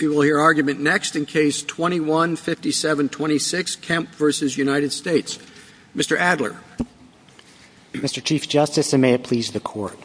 We will hear argument next in Case 21-5726, Kemp v. United States. Mr. Adler. Mr. Chief Justice, and may it please the Court,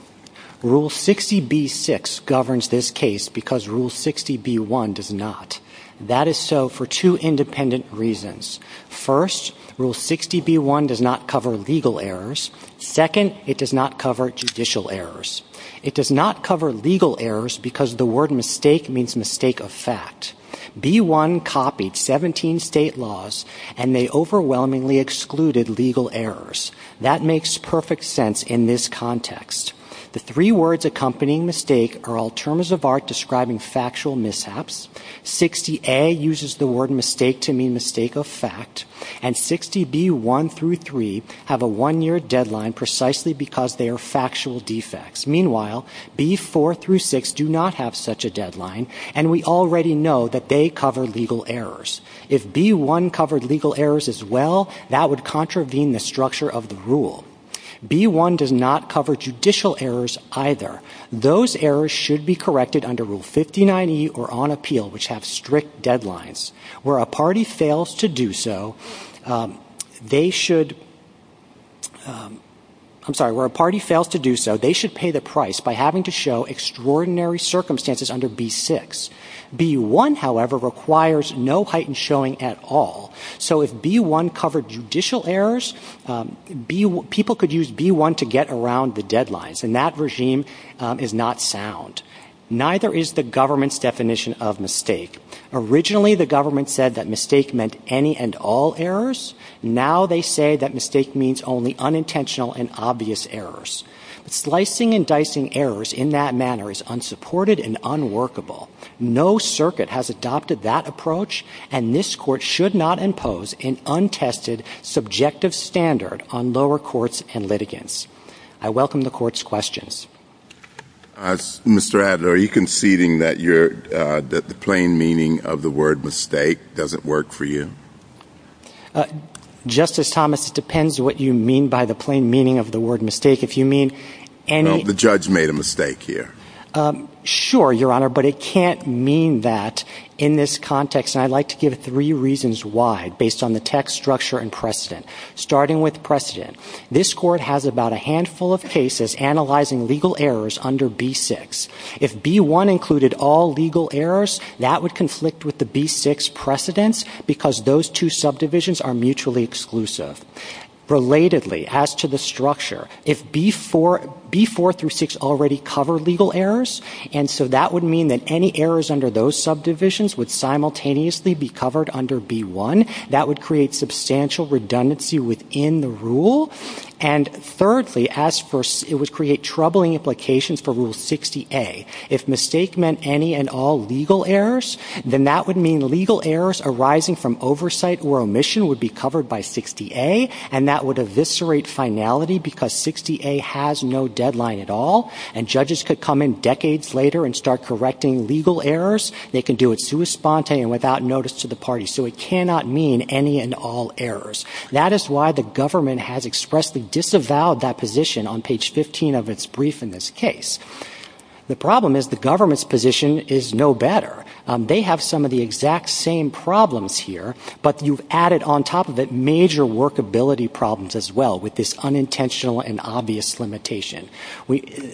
Rule 60b-6 governs this case because Rule 60b-1 does not. That is so for two independent reasons. First, Rule 60b-1 does not cover legal errors. Second, it does not cover judicial errors. It does not cover legal errors because the word mistake means mistake of fact. B-1 copied 17 state laws, and they overwhelmingly excluded legal errors. That makes perfect sense in this context. The three words accompanying mistake are all terms of art describing factual mishaps. 60a uses the word mistake to mean mistake of fact. And 60b-1 through 3 have a one-year deadline precisely because they are factual defects. Meanwhile, b-4 through 6 do not have such a deadline, and we already know that they cover legal errors. If b-1 covered legal errors as well, that would contravene the structure of the rule. B-1 does not cover judicial errors either. Those errors should be corrected under Rule 59e or on appeal, which have strict deadlines. Where a party fails to do so, they should pay the price by having to show extraordinary circumstances under b-6. B-1, however, requires no heightened showing at all. So if b-1 covered judicial errors, people could use b-1 to get around the deadlines, and that regime is not sound. Neither is the government's definition of mistake. Originally, the government said that mistake meant any and all errors. Now they say that mistake means only unintentional and obvious errors. Slicing and dicing errors in that manner is unsupported and unworkable. No circuit has adopted that approach, and this Court should not impose an untested subjective standard on lower courts and litigants. I welcome the Court's questions. Mr. Adler, are you conceding that the plain meaning of the word mistake doesn't work for you? Justice Thomas, it depends what you mean by the plain meaning of the word mistake. If you mean any — No, the judge made a mistake here. Sure, Your Honor, but it can't mean that in this context, and I'd like to give three reasons why, based on the text, structure, and precedent. Starting with precedent, this Court has about a handful of cases analyzing legal errors under b-6. If b-1 included all legal errors, that would conflict with the b-6 precedents, because those two subdivisions are mutually exclusive. Relatedly, as to the structure, if b-4 through 6 already cover legal errors, and so that would mean that any errors under those subdivisions would simultaneously be covered under b-1, that would create substantial redundancy within the rule. And thirdly, as for — it would create troubling implications for Rule 60A. If mistake meant any and all legal errors, then that would mean legal errors arising from oversight or omission would be covered by 60A, and that would eviscerate finality because 60A has no deadline at all, and judges could come in decades later and start correcting legal errors. They can do it sui sponte and without notice to the party. So it cannot mean any and all errors. That is why the government has expressly disavowed that position on page 15 of its brief in this case. The problem is the government's position is no better. They have some of the exact same problems here, but you've added on top of it major workability problems as well, with this unintentional and obvious limitation.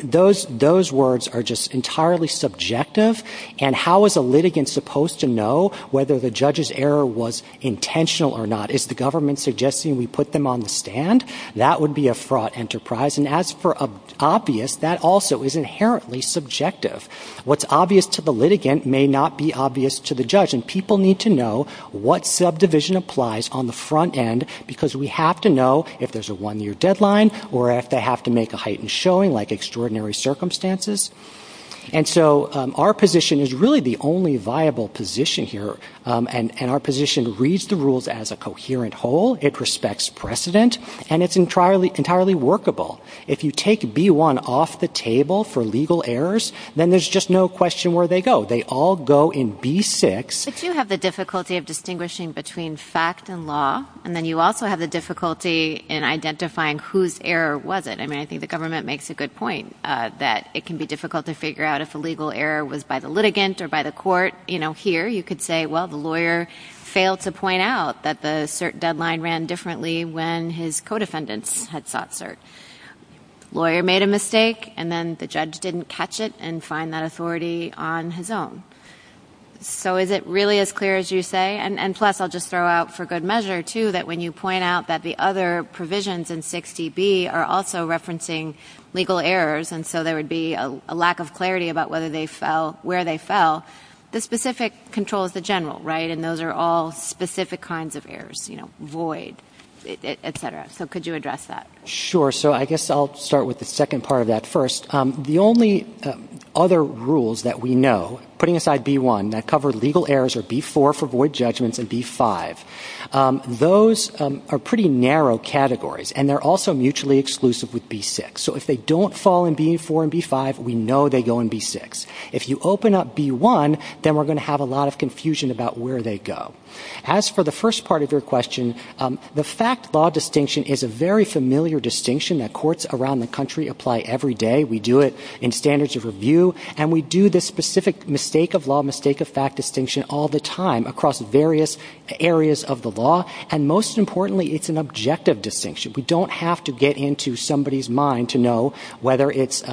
Those words are just entirely subjective, and how is a litigant supposed to know whether the judge's error was intentional or not? Is the government suggesting we put them on the stand? That would be a fraught enterprise, and as for obvious, that also is inherently subjective. What's obvious to the litigant may not be obvious to the judge, and people need to know what subdivision applies on the front end, because we have to know if there's a one-year deadline or if they have to make a heightened showing like extraordinary circumstances. And so our position is really the only viable position here, and our position reads the rules as a coherent whole. It respects precedent, and it's entirely workable. If you take B1 off the table for legal errors, then there's just no question where they go. They all go in B6. But you have the difficulty of distinguishing between fact and law, and then you also have the difficulty in identifying whose error was it. I mean, I think the government makes a good point that it can be difficult to figure out if a legal error was by the litigant or by the court. Here, you could say, well, the lawyer failed to point out that the cert deadline ran differently when his co-defendants had sought cert. Lawyer made a mistake, and then the judge didn't catch it and find that authority on his own. So is it really as clear as you say? And plus, I'll just throw out for good measure, too, that when you point out that the other provisions in 6DB are also referencing legal errors, and so there would be a lack of clarity about where they fell, the specific control is the general, right? And those are all specific kinds of errors, you know, void, et cetera. So could you address that? Sure. So I guess I'll start with the second part of that first. The only other rules that we know, putting aside B-1, that cover legal errors are B-4 for void judgments and B-5. Those are pretty narrow categories, and they're also mutually exclusive with B-6. So if they don't fall in B-4 and B-5, we know they go in B-6. If you open up B-1, then we're going to have a lot of confusion about where they go. As for the first part of your question, the fact-law distinction is a very familiar distinction that courts around the country apply every day. We do it in standards of review, and we do this specific mistake-of-law, mistake-of-fact distinction all the time across various areas of the law. And most importantly, it's an objective distinction. We don't have to get into somebody's mind to know whether it's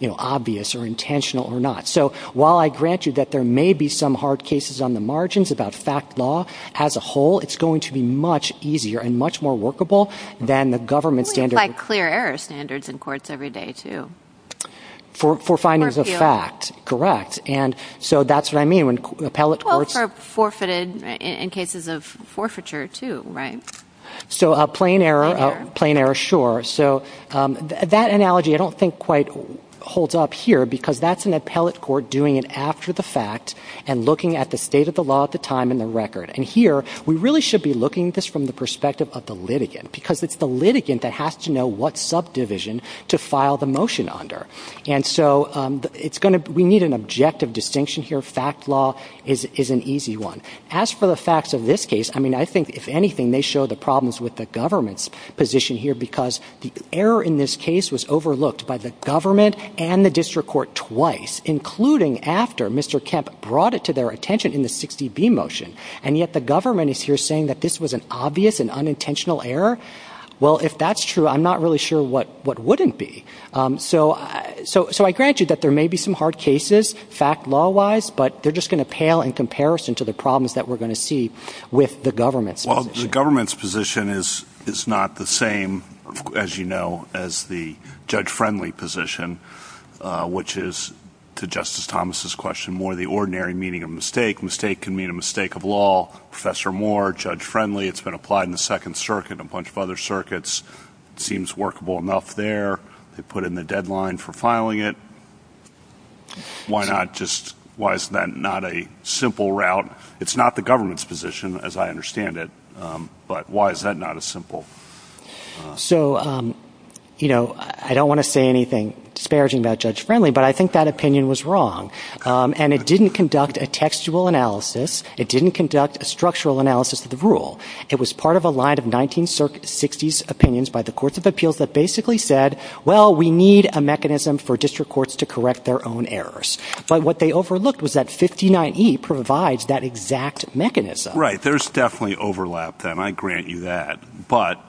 obvious or intentional or not. So while I grant you that there may be some hard cases on the margins about fact-law as a whole, it's going to be much easier and much more workable than the government standard. We apply clear-error standards in courts every day, too. For findings of fact, correct. And so that's what I mean when appellate courts... Well, for forfeited, in cases of forfeiture, too, right? So plain error, plain error, sure. So that analogy I don't think quite holds up here, because that's an appellate court doing it after the fact and looking at the state of the law at the time in the record. And here, we really should be looking at this from the perspective of the litigant, because it's the litigant that has to know what subdivision to file the motion under. And so it's going to we need an objective distinction here. Fact-law is an easy one. As for the facts of this case, I mean, I think, if anything, they show the problems with the government's position here, because the error in this case was overlooked by the government and the district court twice, including after Mr. Kemp brought it to their attention in the 60B motion. And yet the government is here saying that this was an obvious and unintentional error. Well, if that's true, I'm not really sure what wouldn't be. So I grant you that there may be some hard cases, fact-law wise, but they're just going to pale in comparison to the problems that we're going to see with the government's position. Well, the government's position is not the same, as you know, as the judge-friendly position, which is, to Justice Thomas's question, more the ordinary meaning of mistake. Mistake can mean a mistake of law. Professor Moore, judge-friendly. It's been applied in the Second Circuit and a bunch of other circuits. It seems workable enough there. They put in the deadline for filing it. Why not just why is that not a simple route? It's not the government's position, as I understand it. But why is that not a simple? So, you know, I don't want to say anything disparaging about judge-friendly, but I think that opinion was wrong. And it didn't conduct a textual analysis. It didn't conduct a structural analysis of the rule. It was part of a line of 1960s opinions by the courts of appeals that basically said, well, we need a mechanism for district courts to correct their own errors. But what they overlooked was that 59E provides that exact mechanism. Right. There's definitely overlap there, and I grant you that. But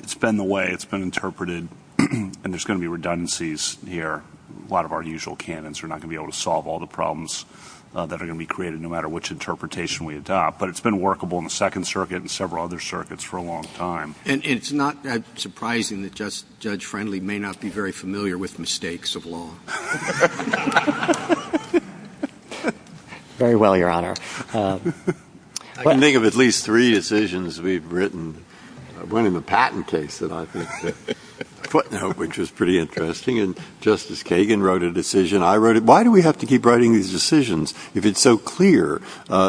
it's been the way it's been interpreted, and there's going to be redundancies here. A lot of our usual canons are not going to be able to solve all the problems that are going to be created, no matter which interpretation we adopt. But it's been workable in the Second Circuit and several other circuits for a long time. And it's not surprising that Judge Friendly may not be very familiar with mistakes of law. Very well, Your Honor. I can think of at least three decisions we've written. One in the Patton case, which was pretty interesting, and Justice Kagan wrote a decision. I wrote it. Why do we have to keep writing these decisions if it's so clear?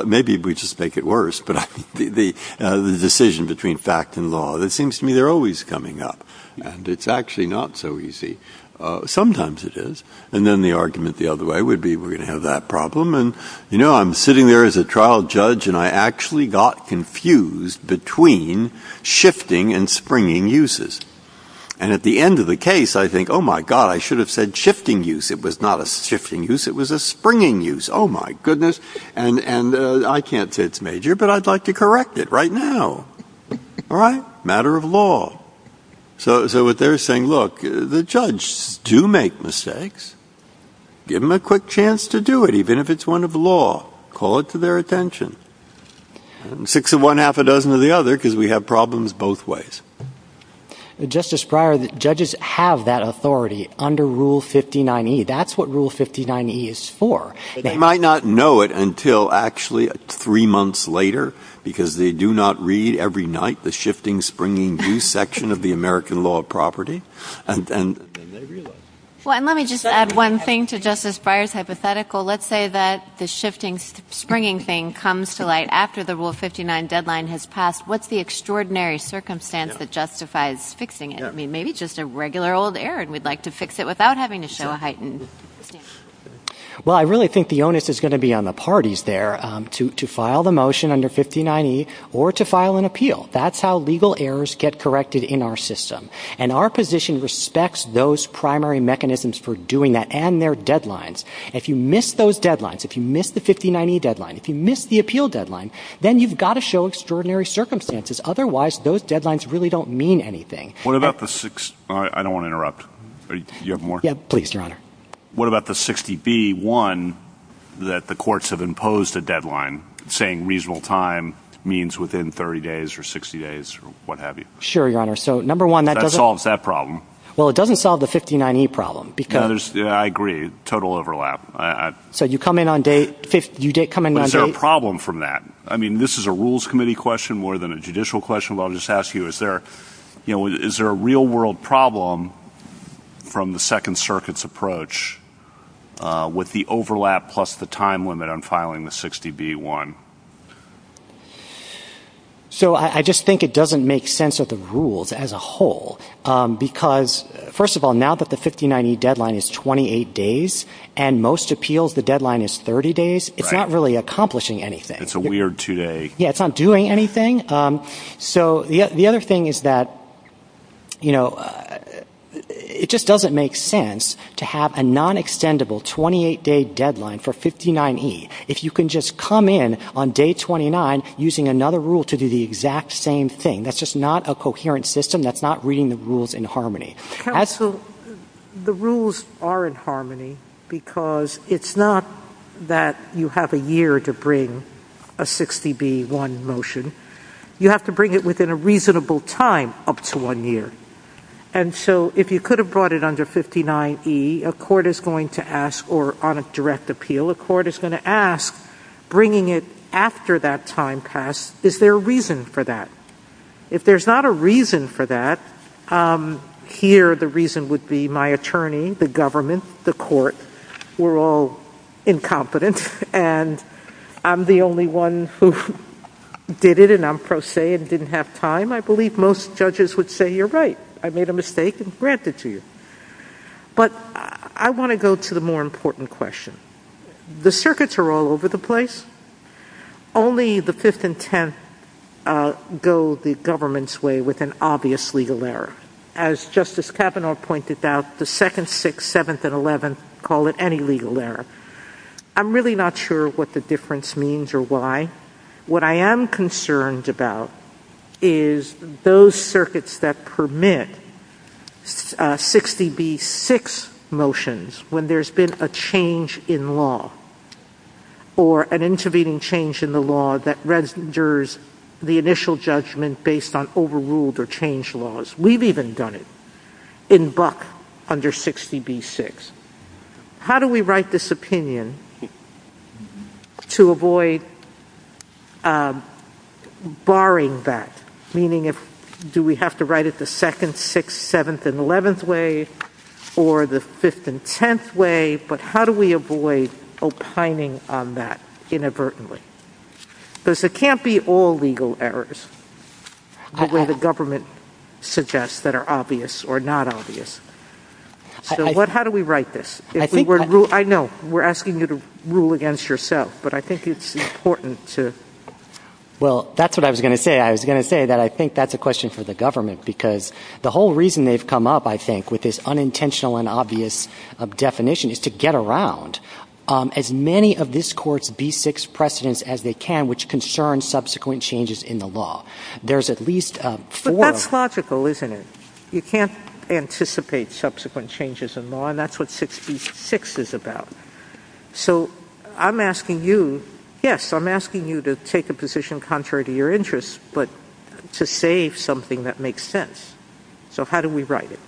Maybe we just make it worse, but the decision between fact and law. It seems to me they're always coming up, and it's actually not so easy. Sometimes it is. And then the argument the other way would be we're going to have that problem. And, you know, I'm sitting there as a trial judge, and I actually got confused between shifting and springing uses. And at the end of the case, I think, oh, my God, I should have said shifting use. It was not a shifting use. It was a springing use. Oh, my goodness. And I can't say it's major, but I'd like to correct it right now. All right? Matter of law. So what they're saying, look, the judges do make mistakes. Give them a quick chance to do it, even if it's one of law. Call it to their attention. Six of one, half a dozen of the other, because we have problems both ways. Justice Breyer, judges have that authority under Rule 59E. That's what Rule 59E is for. They might not know it until actually three months later, because they do not read every night the shifting, springing use section of the American law of property. Well, and let me just add one thing to Justice Breyer's hypothetical. Let's say that the shifting, springing thing comes to light after the Rule 59 deadline has passed. What's the extraordinary circumstance that justifies fixing it? I mean, maybe just a regular old error, and we'd like to fix it without having to show a heightened standard. Well, I really think the onus is going to be on the parties there to file the motion under 59E or to file an appeal. That's how legal errors get corrected in our system. And our position respects those primary mechanisms for doing that and their deadlines. If you miss those deadlines, if you miss the 59E deadline, if you miss the appeal deadline, then you've got to show extraordinary circumstances. Otherwise, those deadlines really don't mean anything. I don't want to interrupt. Do you have more? Sure, Your Honor. Well, it doesn't solve the 59E problem. I agree. Total overlap. Is there a problem from that? I mean, this is a Rules Committee question more than a judicial question, but I'll just ask you, is there a real-world problem from the Second Circuit's approach with the overlap plus the time limit on filing the 60B1? So I just think it doesn't make sense of the rules as a whole, because, first of all, now that the 59E deadline is 28 days and most appeals the deadline is 30 days, it's not really accomplishing anything. It's a weird two-day. Yeah, it's not doing anything. So the other thing is that, you know, it just doesn't make sense to have a non-extendable 28-day deadline for 59E. If you can just come in on day 29 using another rule to do the exact same thing, that's just not a coherent system, that's not reading the rules in harmony. Counsel, the rules are in harmony, because it's not that you have a year to bring a 60B1 motion. You have to bring it within a reasonable time, up to one year. And so if you could have brought it under 59E, a court is going to ask, or on a direct appeal, a court is going to ask, bringing it after that time pass, is there a reason for that? If there's not a reason for that, here the reason would be my attorney, the government, the court, we're all incompetent, and I'm the only one who did it and I'm pro se and didn't have time. I believe most judges would say, you're right, I made a mistake and grant it to you. But I want to go to the more important question. The circuits are all over the place. Only the 5th and 10th go the government's way with an obvious legal error. As Justice Kavanaugh pointed out, the 2nd, 6th, 7th, and 11th call it any legal error. I'm really not sure what the difference means or why. What I am concerned about is those circuits that permit 60B6 motions when there's been a change in law or an intervening change in the law that renders the initial judgment based on overruled or changed laws. We've even done it in Buck under 60B6. How do we write this opinion to avoid barring that, meaning do we have to write it the 2nd, 6th, 7th, and 11th way or the 5th and 10th way, but how do we avoid opining on that inadvertently? Because it can't be all legal errors the way the government suggests that are obvious or not obvious. So how do we write this? I know we're asking you to rule against yourself, but I think it's important to ‑‑ Well, that's what I was going to say. I was going to say that I think that's a question for the government because the whole reason they've come up, I think, with this unintentional and obvious definition is to get around as many of this Court's B6 precedents as they can which concern subsequent changes in the law. There's at least four. But that's logical, isn't it? You can't anticipate subsequent changes in law, and that's what 60B6 is about. So I'm asking you, yes, I'm asking you to take a position contrary to your interests, but to say something that makes sense. So how do we write it?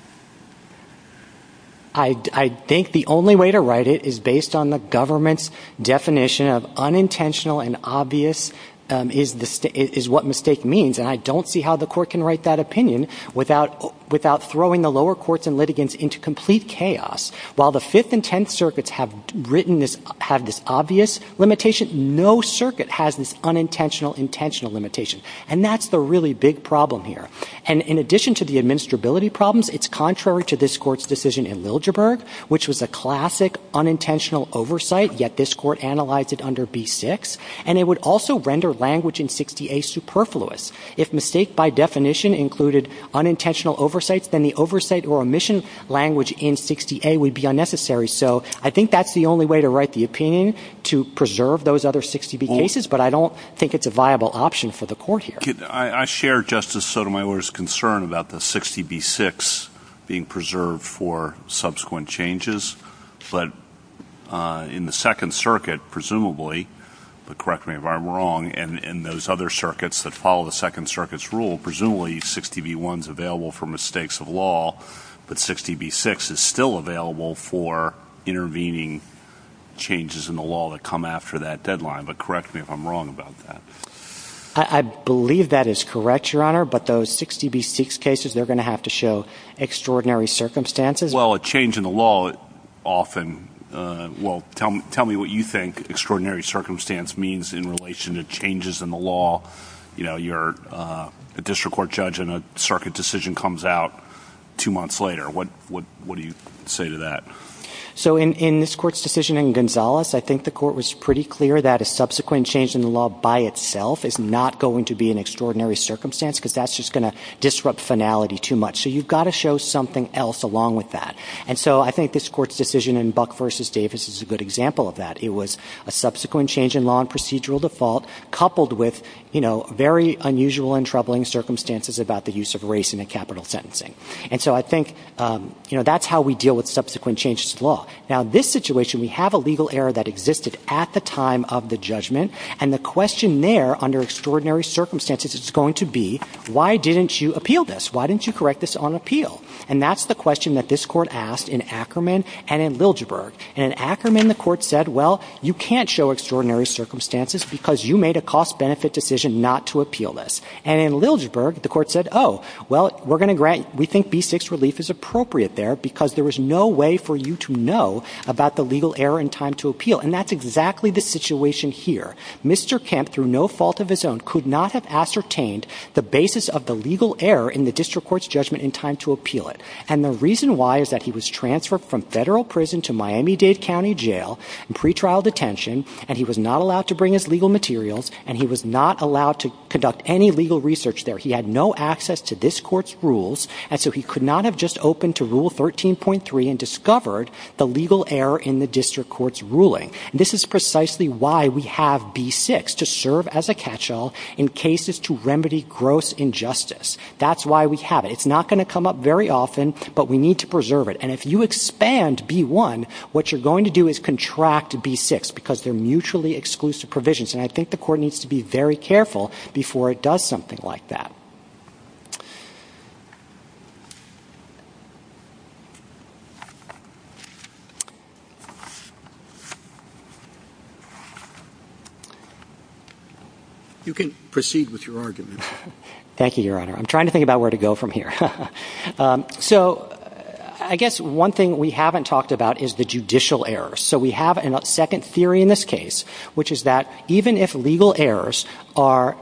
I think the only way to write it is based on the government's definition of unintentional and obvious is what mistake means, and I don't see how the Court can write that opinion without throwing the lower courts and litigants into complete chaos. While the 5th and 10th circuits have written this ‑‑ have this obvious limitation, no circuit has this unintentional, intentional limitation, and that's the really big problem here. And in addition to the administrability problems, it's contrary to this Court's decision in Liljeburg which was a classic unintentional oversight, yet this Court analyzed it under B6, and it would also render language in 60A superfluous. If mistake by definition included unintentional oversights, then the oversight or omission language in 60A would be unnecessary. So I think that's the only way to write the opinion, to preserve those other 60B cases, but I don't think it's a viable option for the Court here. I share Justice Sotomayor's concern about the 60B6 being preserved for subsequent changes, but in the 2nd Circuit, presumably, but correct me if I'm wrong, in those other circuits that follow the 2nd Circuit's rule, presumably 60B1 is available for mistakes of law, but 60B6 is still available for intervening changes in the law that come after that deadline, but correct me if I'm wrong about that. I believe that is correct, Your Honor, but those 60B6 cases, they're going to have to show extraordinary circumstances. Well, a change in the law often ‑‑ well, tell me what you think extraordinary circumstance means in relation to changes in the law. You know, you're a district court judge and a circuit decision comes out two months later. What do you say to that? So in this Court's decision in Gonzales, I think the Court was pretty clear that a subsequent change in the law by itself is not going to be an extraordinary circumstance, because that's just going to disrupt finality too much. So you've got to show something else along with that. And so I think this Court's decision in Buck v. Davis is a good example of that. It was a subsequent change in law and procedural default coupled with, you know, very unusual and troubling circumstances about the use of race in a capital sentencing. And so I think, you know, that's how we deal with subsequent changes to the law. Now, in this situation, we have a legal error that existed at the time of the judgment, and the question there under extraordinary circumstances is going to be, why didn't you appeal this? Why didn't you correct this on appeal? And that's the question that this Court asked in Ackerman and in Liljeburg. And in Ackerman, the Court said, well, you can't show extraordinary circumstances because you made a cost‑benefit decision not to appeal this. And in Liljeburg, the Court said, oh, well, we're going to grant ‑‑ we think B‑6 relief is appropriate there because there was no way for you to know about the legal error in time to appeal. And that's exactly the situation here. Mr. Kemp, through no fault of his own, could not have ascertained the basis of the legal error in the district court's judgment in time to appeal it. And the reason why is that he was transferred from federal prison to Miami-Dade County Jail in pretrial detention, and he was not allowed to bring his legal materials, and he was not allowed to conduct any legal research there. He had no access to this Court's rules, and so he could not have just opened to Rule 13.3 and discovered the legal error in the district court's ruling. And this is precisely why we have B‑6, to serve as a catchall in cases to remedy gross injustice. That's why we have it. It's not going to come up very often, but we need to preserve it. And if you expand B‑1, what you're going to do is contract B‑6, because they're mutually exclusive provisions. And I think the Court needs to be very careful before it does something like that. You can proceed with your argument. Thank you, Your Honor. I'm trying to think about where to go from here. So I guess one thing we haven't talked about is the judicial errors. So we have a second theory in this case, which is that even if legal errors are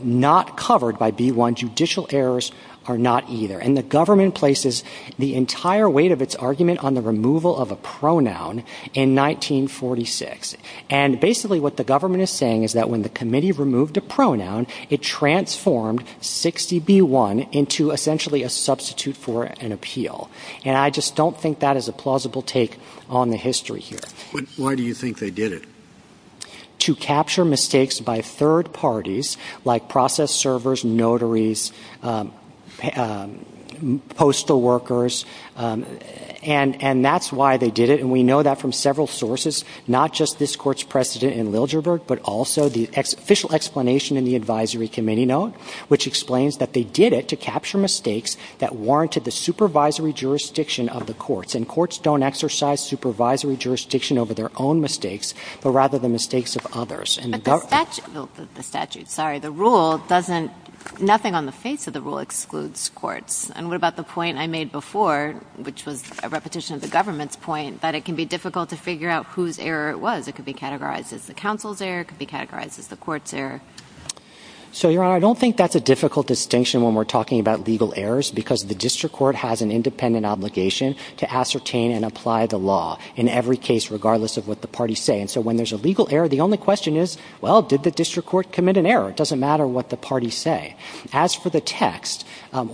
not covered by B‑1, judicial errors are not either. And the government places the entire weight of its argument on the removal of a pronoun in 1946. And basically what the government is saying is that when the committee removed a pronoun, it transformed 60B‑1 into essentially a substitute for an appeal. And I just don't think that is a plausible take on the history here. But why do you think they did it? To capture mistakes by third parties, like process servers, notaries, postal workers. And that's why they did it. And we know that from several sources, not just this Court's precedent in Liljeburg, but also the official explanation in the Advisory Committee note, which explains that they did it to capture mistakes that warranted the supervisory jurisdiction of the courts. And courts don't exercise supervisory jurisdiction over their own mistakes, but rather the mistakes of others. But the statute ‑‑ sorry, the rule doesn't ‑‑ nothing on the face of the rule excludes courts. And what about the point I made before, which was a repetition of the government's point, that it can be difficult to figure out whose error it was? It could be categorized as the council's error, it could be categorized as the court's error. So, Your Honor, I don't think that's a difficult distinction when we're talking about legal errors, because the district court has an independent obligation to ascertain and apply the law in every case, regardless of what the parties say. And so when there's a legal error, the only question is, well, did the district court commit an error? It doesn't matter what the parties say. As for the text,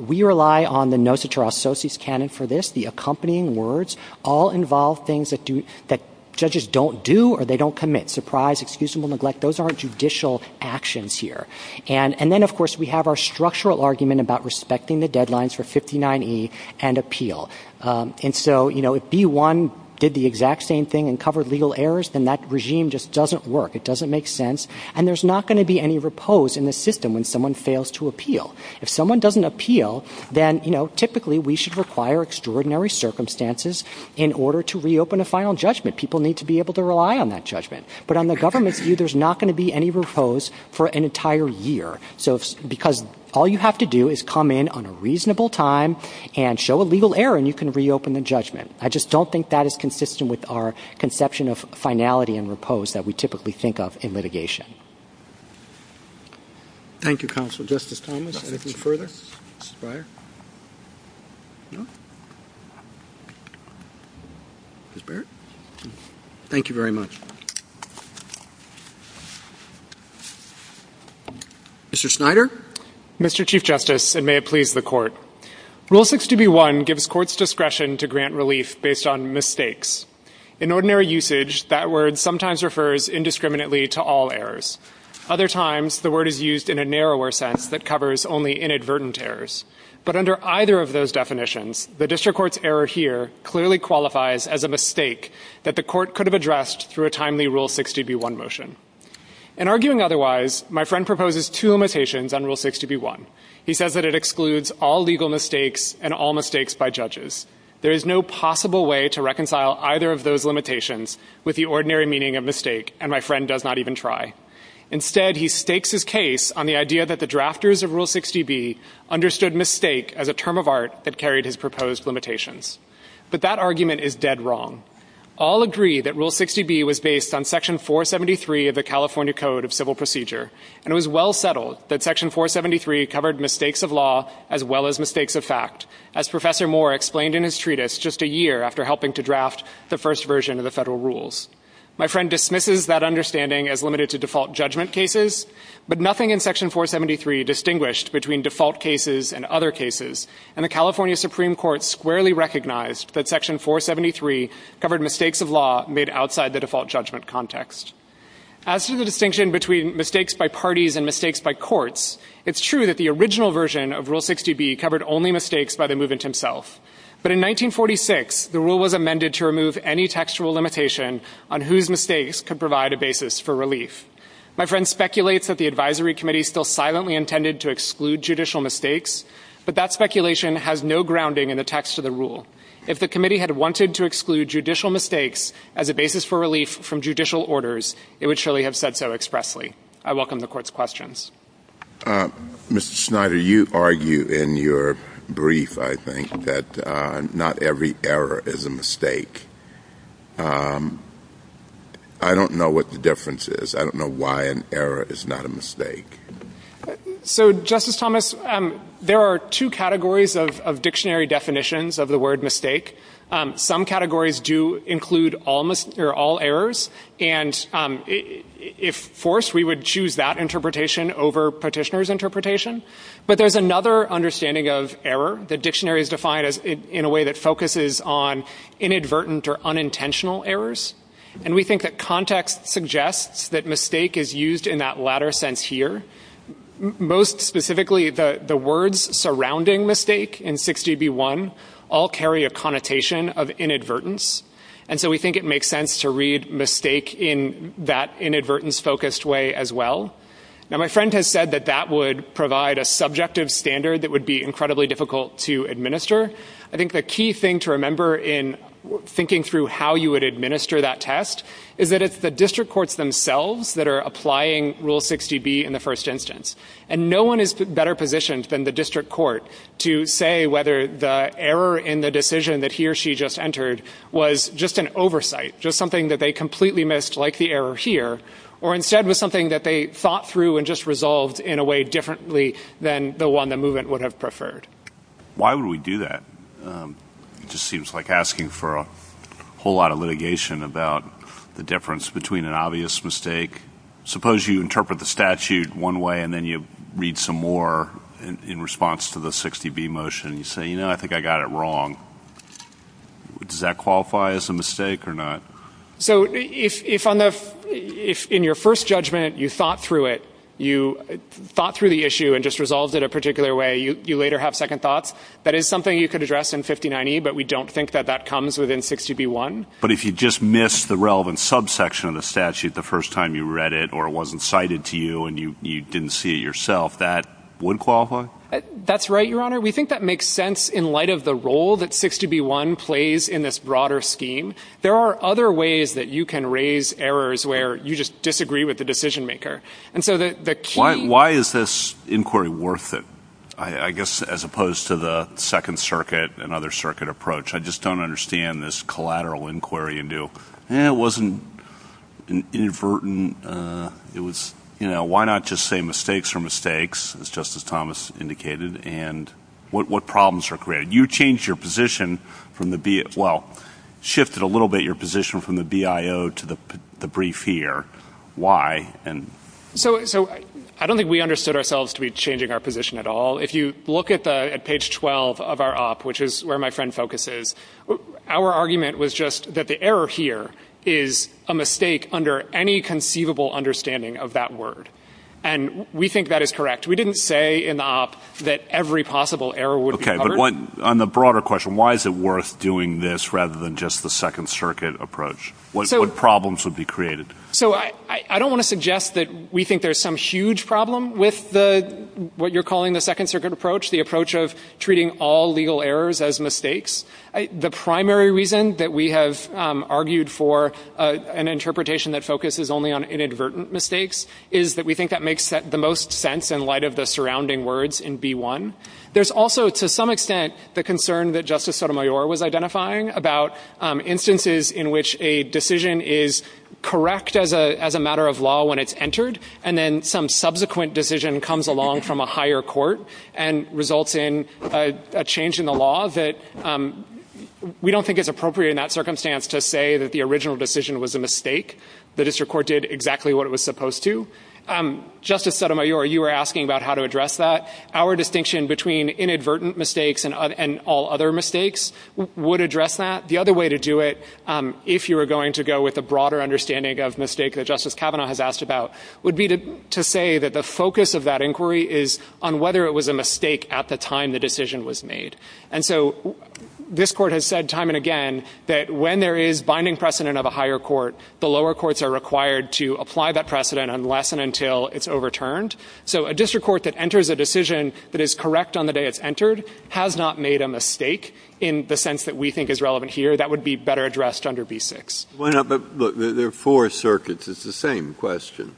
we rely on the NOSATAR Associates canon for this. The accompanying words all involve things that judges don't do or they don't commit. Surprise, excusable neglect, those aren't judicial actions here. And then, of course, we have our structural argument about respecting the deadlines for 59E and appeal. And so, you know, if B-1 did the exact same thing and covered legal errors, then that regime just doesn't work. It doesn't make sense. And there's not going to be any repose in the system when someone fails to appeal. If someone doesn't appeal, then, you know, typically we should require extraordinary circumstances in order to reopen a final judgment. People need to be able to rely on that judgment. But on the government's view, there's not going to be any repose for an entire year. So because all you have to do is come in on a reasonable time and show a legal error, and you can reopen the judgment. I just don't think that is consistent with our conception of finality and repose that we typically think of in litigation. Thank you, Counsel. Justice Thomas, anything further? No? Ms. Barrett? Thank you very much. Mr. Snyder? Mr. Chief Justice, and may it please the Court. Rule 60B-1 gives courts discretion to grant relief based on mistakes. In ordinary usage, that word sometimes refers indiscriminately to all errors. Other times, the word is used in a narrower sense that covers only inadvertent errors. But under either of those definitions, the district court's error here clearly qualifies as a mistake that the court could have addressed through a timely Rule 60B-1 motion. In arguing otherwise, my friend proposes two limitations on Rule 60B-1. He says that it excludes all legal mistakes and all mistakes by judges. There is no possible way to reconcile either of those limitations with the ordinary meaning of mistake, and my friend does not even try. Instead, he stakes his case on the idea that the drafters of Rule 60B understood mistake as a term of art that carried his proposed limitations. But that argument is dead wrong. All agree that Rule 60B was based on Section 473 of the California Code of Civil Procedure, and it was well settled that Section 473 covered mistakes of law as well as mistakes of fact, as Professor Moore explained in his treatise just a year after helping to draft the first version of the federal rules. My friend dismisses that understanding as limited to default judgment cases, but nothing in Section 473 distinguished between default cases and other cases, and the California Supreme Court squarely recognized that Section 473 covered mistakes of law made outside the default judgment context. As to the distinction between mistakes by parties and mistakes by courts, it's true that the original version of Rule 60B covered only mistakes by the movement himself. But in 1946, the rule was amended to remove any textual limitation on whose mistakes could provide a basis for relief. My friend speculates that the advisory committee still silently intended to exclude judicial mistakes, but that speculation has no grounding in the text of the rule. If the committee had wanted to exclude judicial mistakes as a basis for relief from judicial orders, it would surely have said so expressly. I welcome the Court's questions. Mr. Schneider, you argue in your brief, I think, that not every error is a mistake. I don't know what the difference is. I don't know why an error is not a mistake. So, Justice Thomas, there are two categories of dictionary definitions of the word mistake. Some categories do include all errors. And if forced, we would choose that interpretation over Petitioner's interpretation. But there's another understanding of error that dictionaries define in a way that focuses on inadvertent or unintentional errors. And we think that context suggests that mistake is used in that latter sense here. Most specifically, the words surrounding mistake in 6GB1 all carry a connotation of inadvertence. And so we think it makes sense to read mistake in that inadvertence-focused way as well. Now, my friend has said that that would provide a subjective standard that would be incredibly difficult to administer. I think the key thing to remember in thinking through how you would administer that test is that it's the district courts themselves that are applying Rule 60B in the first instance. And no one is better positioned than the district court to say whether the error in the decision that he or she just entered was just an oversight, just something that they completely missed, like the error here, or instead was something that they thought through and just resolved in a way differently than the one the movement would have preferred. Why would we do that? It just seems like asking for a whole lot of litigation about the difference between an obvious mistake. Suppose you interpret the statute one way and then you read some more in response to the 60B motion. You say, you know, I think I got it wrong. Does that qualify as a mistake or not? So if in your first judgment you thought through it, you thought through the issue and just resolved it a particular way, you later have second thoughts, that is something you could address in 5090, but we don't think that that comes within 60B1. But if you just missed the relevant subsection of the statute the first time you read it or it wasn't cited to you and you didn't see it yourself, that would qualify? That's right, Your Honor. We think that makes sense in light of the role that 60B1 plays in this broader scheme. There are other ways that you can raise errors where you just disagree with the decision maker. Why is this inquiry worth it? I guess as opposed to the Second Circuit and other circuit approach, I just don't understand this collateral inquiry into it wasn't inadvertent, it was, you know, why not just say mistakes are mistakes, as Justice Thomas indicated, and what problems are created? You changed your position from the BIO, well, shifted a little bit your position from the BIO to the brief here. Why? So I don't think we understood ourselves to be changing our position at all. If you look at page 12 of our op, which is where my friend focuses, our argument was just that the error here is a mistake under any conceivable understanding of that word. And we think that is correct. We didn't say in the op that every possible error would be covered. Okay, but on the broader question, why is it worth doing this rather than just the Second Circuit approach? What problems would be created? So I don't want to suggest that we think there's some huge problem with what you're calling the Second Circuit approach, the approach of treating all legal errors as mistakes. The primary reason that we have argued for an interpretation that focuses only on inadvertent mistakes is that we think that makes the most sense in light of the surrounding words in B1. There's also, to some extent, the concern that Justice Sotomayor was identifying about instances in which a decision is correct as a matter of law when it's entered and then some subsequent decision comes along from a higher court and results in a change in the law that we don't think is appropriate in that circumstance to say that the original decision was a mistake. The district court did exactly what it was supposed to. Justice Sotomayor, you were asking about how to address that. Our distinction between inadvertent mistakes and all other mistakes would address that. The other way to do it, if you were going to go with a broader understanding of mistake that Justice Kavanaugh has asked about, would be to say that the focus of that inquiry is on whether it was a mistake at the time the decision was made. And so this court has said time and again that when there is binding precedent of a higher court, the lower courts are required to apply that precedent unless and until it's overturned. So a district court that enters a decision that is correct on the day it's entered has not made a mistake in the sense that we think is relevant here. That would be better addressed under B-6. Breyer. But look, there are four circuits. It's the same question.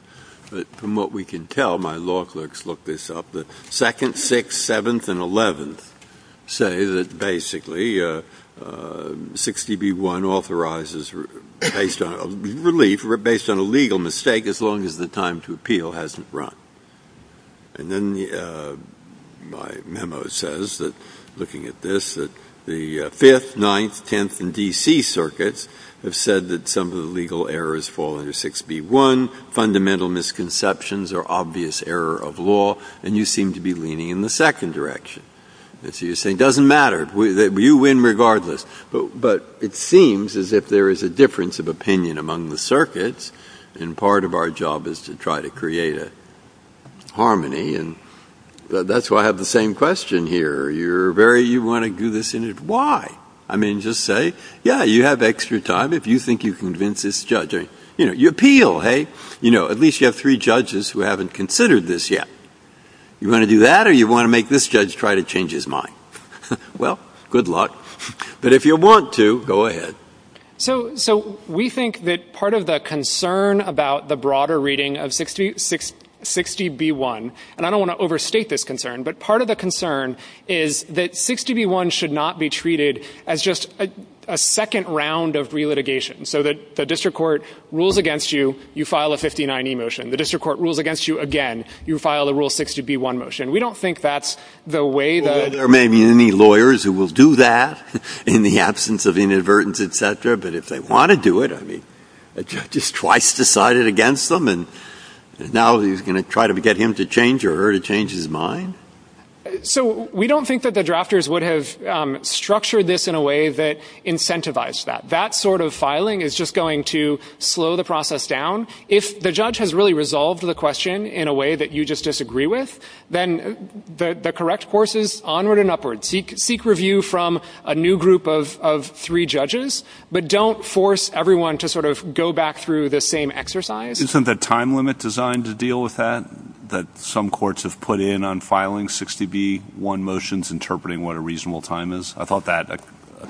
But from what we can tell, my law clerks look this up, the second, sixth, seventh, and eleventh say that basically 60B-1 authorizes relief based on a legal mistake as long as the time to appeal hasn't run. And then my memo says that, looking at this, that the Fifth, Ninth, Tenth, and D.C. circuits have said that some of the legal errors fall under 6B-1. Fundamental misconceptions are obvious error of law, and you seem to be leaning in the second direction. And so you're saying it doesn't matter. You win regardless. But it seems as if there is a difference of opinion among the circuits, and part of our job is to try to create a harmony. And that's why I have the same question here. You're very, you want to do this? Why? I mean, just say, yeah, you have extra time if you think you convince this judge. You know, you appeal, hey? You know, at least you have three judges who haven't considered this yet. You want to do that, or you want to make this judge try to change his mind? Well, good luck. But if you want to, go ahead. So we think that part of the concern about the broader reading of 6B-1, and I don't want to overstate this concern, but part of the concern is that 6B-1 should not be treated as just a second round of re-litigation, so that the district court rules against you, you file a 59E motion. The district court rules against you again, you file a Rule 60B-1 motion. We don't think that's the way that ---- Well, there may be any lawyers who will do that in the absence of inadvertence, et cetera. But if they want to do it, I mean, a judge is twice decided against them, and now he's going to try to get him to change or her to change his mind? So we don't think that the drafters would have structured this in a way that incentivized that. That sort of filing is just going to slow the process down. If the judge has really resolved the question in a way that you just disagree with, then the correct course is onward and upward. Seek review from a new group of three judges, but don't force everyone to sort of go back through the same exercise. Isn't the time limit designed to deal with that, that some courts have put in on filing 6B-1 motions, interpreting what a reasonable time is? I thought that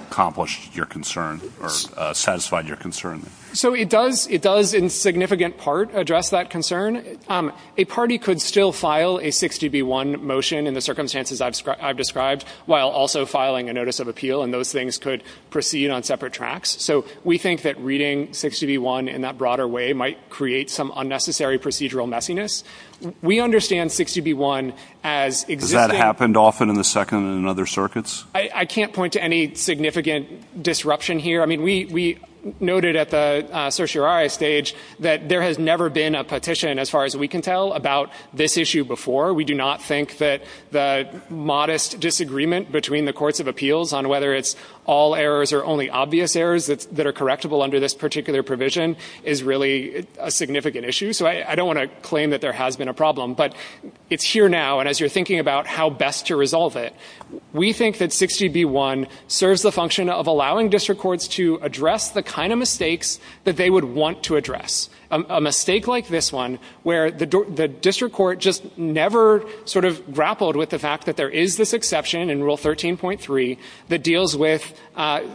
accomplished your concern or satisfied your concern. So it does in significant part address that concern. A party could still file a 6B-1 motion in the circumstances I've described while also filing a notice of appeal, and those things could proceed on separate tracks. So we think that reading 6B-1 in that broader way might create some unnecessary procedural messiness. We understand 6B-1 as existing. Has that happened often in the Second and other circuits? I can't point to any significant disruption here. I mean, we noted at the certiorari stage that there has never been a petition, as far as we can tell, about this issue before. We do not think that the modest disagreement between the courts of appeals on whether it's all errors or only obvious errors that are correctable under this particular provision is really a significant issue. So I don't want to claim that there has been a problem. But it's here now, and as you're thinking about how best to resolve it, we think that 6B-1 serves the function of allowing district courts to address the kind of mistakes that they would want to address. A mistake like this one, where the district court just never sort of grappled with the fact that there is this exception in Rule 13.3 that deals with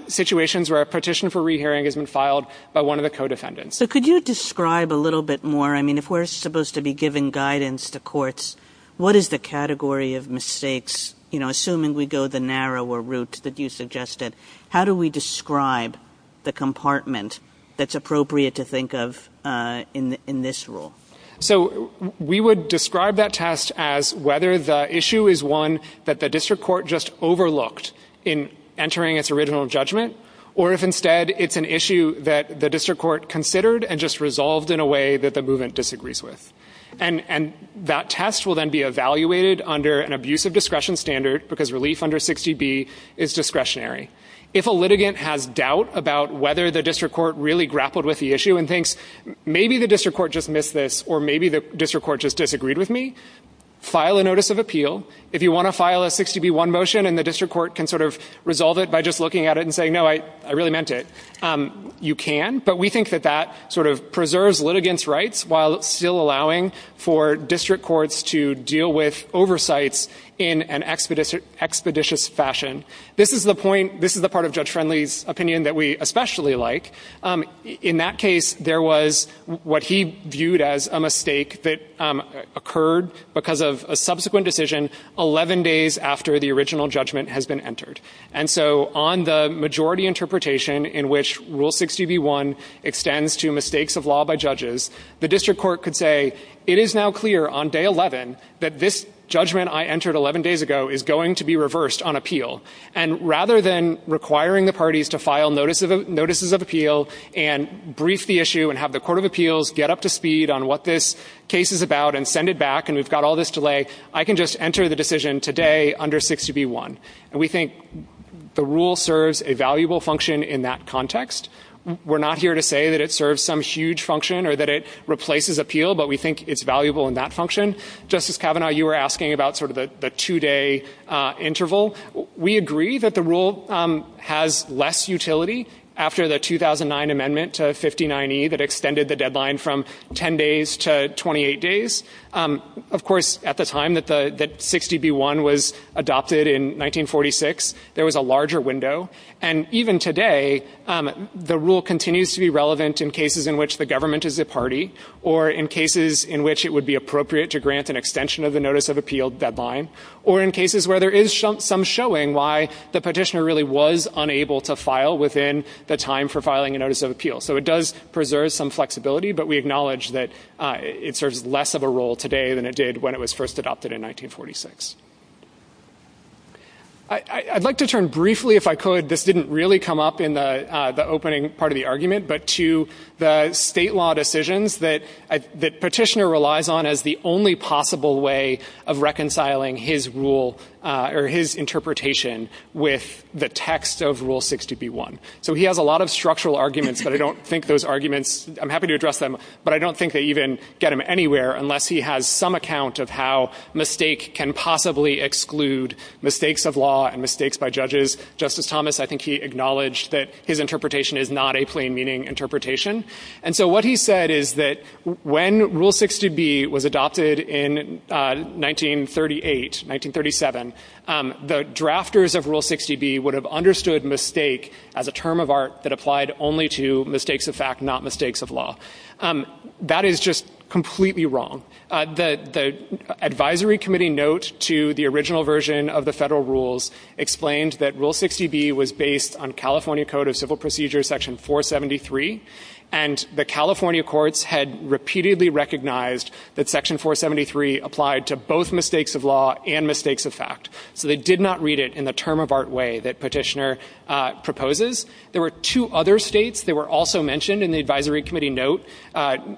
situations where a petition for rehearing has been filed by one of the co-defendants. So could you describe a little bit more? I mean, if we're supposed to be giving guidance to courts, what is the category of mistakes? You know, assuming we go the narrower route that you suggested, how do we describe the compartment that's appropriate to think of in this rule? So we would describe that test as whether the issue is one that the district court just overlooked in entering its original judgment, or if instead it's an issue that the district court considered and just resolved in a way that the movement disagrees with. And that test will then be evaluated under an abuse of discretion standard because relief under 60B is discretionary. If a litigant has doubt about whether the district court really grappled with the issue and thinks, maybe the district court just missed this, or maybe the district court just disagreed with me, file a notice of appeal. If you want to file a 60B1 motion and the district court can sort of resolve it by just looking at it and saying, no, I really meant it, you can. But we think that that sort of preserves litigants' rights while still allowing for district courts to deal with oversights in an expeditious fashion. This is the part of Judge Friendly's opinion that we especially like. In that case, there was what he viewed as a mistake that occurred because of a subsequent decision 11 days after the original judgment has been entered. And so on the majority interpretation in which Rule 60B1 extends to mistakes of law by judges, the district court could say, it is now clear on day 11 that this judgment I entered 11 days ago is going to be reversed on appeal. And rather than requiring the parties to file notices of appeal and brief the issue and have the court of appeals get up to speed on what this case is about and send it back and we've got all this delay, I can just enter the decision today under 60B1. And we think the rule serves a valuable function in that context. We're not here to say that it serves some huge function or that it replaces appeal, but we think it's valuable in that function. Justice Kavanaugh, you were asking about sort of the two-day interval. We agree that the rule has less utility after the 2009 amendment to 59E that extended the deadline from 10 days to 28 days. Of course, at the time that 60B1 was adopted in 1946, there was a larger window. And even today, the rule continues to be relevant in cases in which the government is a party or in cases in which it would be appropriate to grant an extension of the notice of appeal deadline or in cases where there is some showing why the petitioner really was unable to file within the time for filing a notice of appeal. So it does preserve some flexibility, but we acknowledge that it serves less of a role today than it did when it was first adopted in 1946. I'd like to turn briefly, if I could, this didn't really come up in the opening part of the argument, but to the state law decisions that petitioner relies on as the only possible way of reconciling his rule or his interpretation with the text of Rule 60B1. So he has a lot of structural arguments, but I don't think those arguments, I'm happy to address them, but I don't think they even get him anywhere unless he has some account of how mistake can possibly exclude mistakes of law and mistakes by judges. Justice Thomas, I think he acknowledged that his interpretation is not a plain meaning interpretation. And so what he said is that when Rule 60B was adopted in 1938, 1937, the drafters of Rule 60B would have understood mistake as a term of art that applied only to mistakes of fact, not mistakes of law. That is just completely wrong. The advisory committee note to the original version of the federal rules explained that Rule 60B was based on California Code of Civil Procedures Section 473, and the California courts had repeatedly recognized that Section 473 applied to both mistakes of law and mistakes of fact. So they did not read it in the term of art way that petitioner proposes. There were two other states that were also mentioned in the advisory committee note,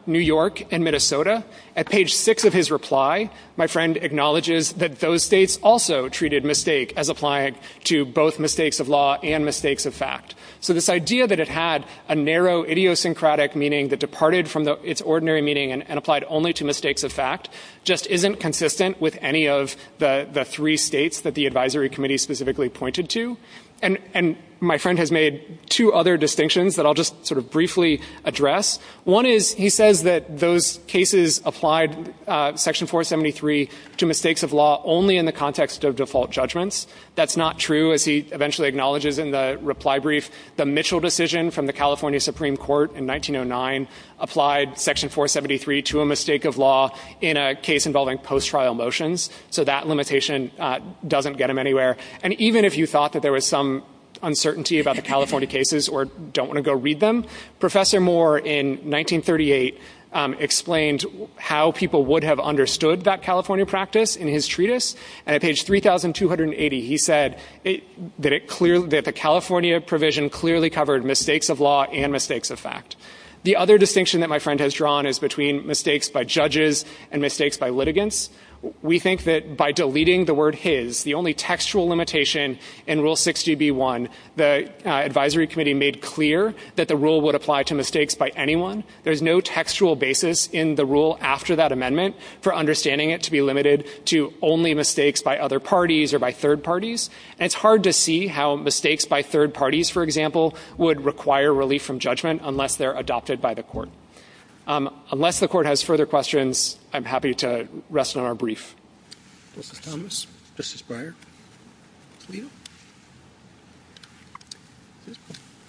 New York and Minnesota. At page six of his reply, my friend acknowledges that those states also treated mistake as applying to both mistakes of law and mistakes of fact. So this idea that it had a narrow idiosyncratic meaning that departed from its ordinary meaning and applied only to mistakes of fact just isn't consistent with any of the three states that the advisory committee specifically pointed to. And my friend has made two other distinctions that I'll just sort of One is he says that those cases applied Section 473 to mistakes of law only in the context of default judgments. That's not true, as he eventually acknowledges in the reply brief. The Mitchell decision from the California Supreme Court in 1909 applied Section 473 to a mistake of law in a case involving post-trial motions. So that limitation doesn't get him anywhere. cases or don't want to go read them. Professor Moore in 1938 explained how people would have understood that California practice in his treatise. And at page 3,280, he said that the California provision clearly covered mistakes of law and mistakes of fact. The other distinction that my friend has drawn is between mistakes by judges and mistakes by litigants. We think that by deleting the word his, the only textual limitation in Rule 60B1, the advisory committee made clear that the rule would apply to mistakes by anyone. There's no textual basis in the rule after that amendment for understanding it to be limited to only mistakes by other parties or by third parties. And it's hard to see how mistakes by third parties, for example, would require relief from judgment unless they're adopted by the court. Unless the court has further questions, I'm happy to rest on our brief. This is Thomas. This is Breyer. Toledo.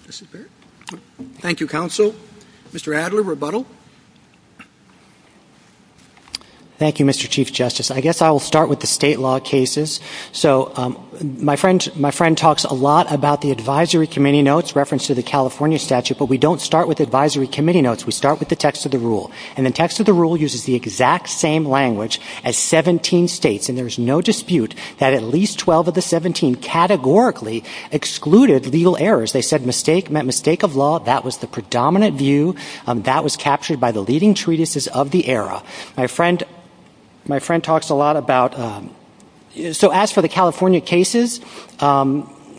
This is Barrett. Thank you, counsel. Mr. Adler, rebuttal. Thank you, Mr. Chief Justice. I guess I will start with the state law cases. So my friend talks a lot about the advisory committee notes referenced to the California statute, but we don't start with advisory committee notes. We start with the text of the rule. And the text of the rule uses the exact same language as 17 states. And there's no dispute that at least 12 of the 17 categorically excluded legal errors. They said mistake meant mistake of law. That was the predominant view. That was captured by the leading treatises of the era. My friend talks a lot about so as for the California cases,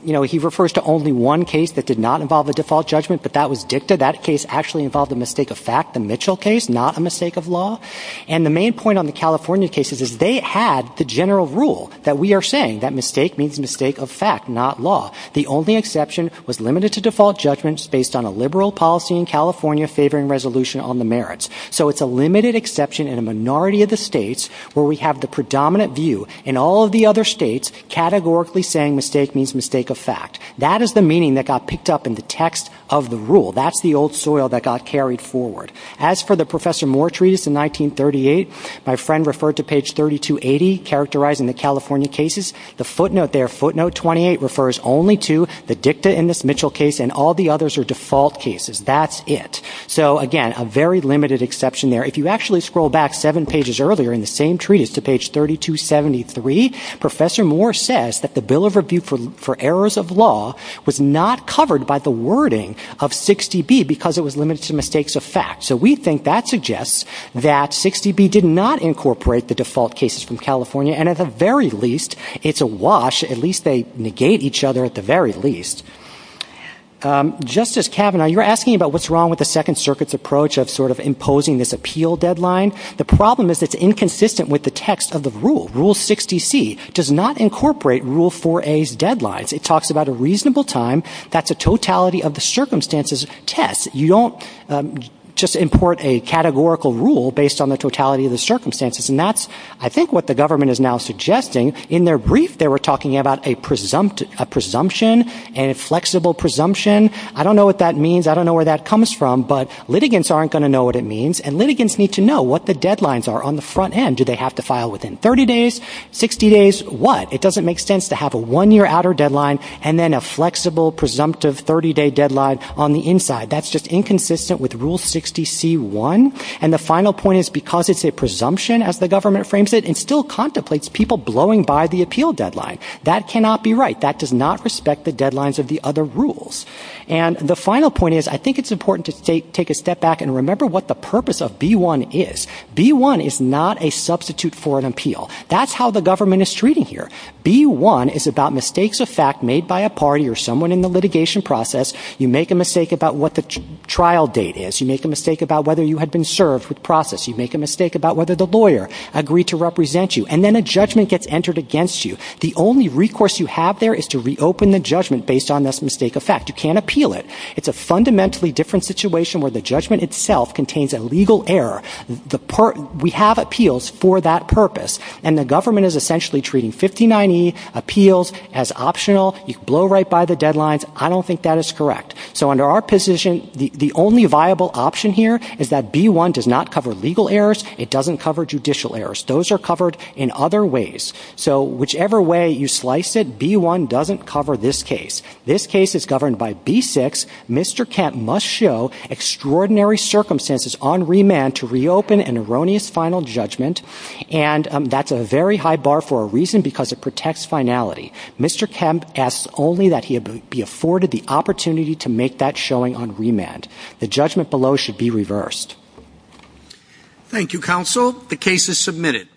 you know, he refers to only one case that did not involve a default judgment, but that was dicta. That case actually involved a mistake of fact, the Mitchell case, not a mistake of law. And the main point on the California cases is they had the general rule that we are saying. That mistake means mistake of fact, not law. The only exception was limited to default judgments based on a liberal policy in California favoring resolution on the merits. So it's a limited exception in a minority of the states where we have the predominant view in all of the other states categorically saying mistake means mistake of fact. That is the meaning that got picked up in the text of the rule. That's the old soil that got carried forward. As for the Professor Moore treatise in 1938, my friend referred to page 3280 characterizing the California cases. The footnote there, footnote 28, refers only to the dicta in this Mitchell case and all the others are default cases. That's it. So, again, a very limited exception there. If you actually scroll back seven pages earlier in the same treatise to page 3273, Professor Moore says that the Bill of Review for Errors of Law was not covered by the wording of 60B because it was limited to mistakes of fact. So we think that suggests that 60B did not incorporate the default cases from California, and at the very least, it's a wash. At least they negate each other at the very least. Justice Kavanaugh, you're asking about what's wrong with the Second Circuit's approach of sort of imposing this appeal deadline. The problem is it's inconsistent with the text of the rule. Rule 60C does not incorporate Rule 4A's deadlines. It talks about a reasonable time. That's a totality of the circumstances test. You don't just import a categorical rule based on the totality of the circumstances, and that's, I think, what the government is now suggesting. In their brief, they were talking about a presumption and a flexible presumption. I don't know what that means. I don't know where that comes from. But litigants aren't going to know what it means, and litigants need to know what the deadlines are on the front end. Do they have to file within 30 days, 60 days, what? It doesn't make sense to have a one-year outer deadline and then a flexible, presumptive 30-day deadline on the inside. That's just inconsistent with Rule 60C-1. And the final point is because it's a presumption, as the government frames it, it still contemplates people blowing by the appeal deadline. That cannot be right. That does not respect the deadlines of the other rules. And the final point is I think it's important to take a step back and remember what the purpose of B-1 is. B-1 is not a substitute for an appeal. That's how the government is treating here. B-1 is about mistakes of fact made by a party or someone in the litigation process. You make a mistake about what the trial date is. You make a mistake about whether you had been served with process. You make a mistake about whether the lawyer agreed to represent you. And then a judgment gets entered against you. The only recourse you have there is to reopen the judgment based on this mistake of fact. You can't appeal it. It's a fundamentally different situation where the judgment itself contains a legal error. We have appeals for that purpose. And the government is essentially treating 59E appeals as optional. You blow right by the deadlines. I don't think that is correct. So under our position, the only viable option here is that B-1 does not cover legal errors. It doesn't cover judicial errors. Those are covered in other ways. So whichever way you slice it, B-1 doesn't cover this case. This case is governed by B-6. Mr. Kemp must show extraordinary circumstances on remand to reopen an erroneous final judgment. And that's a very high bar for a reason because it protects finality. Mr. Kemp asks only that he be afforded the opportunity to make that showing on remand. The judgment below should be reversed. Thank you, counsel. The case is submitted.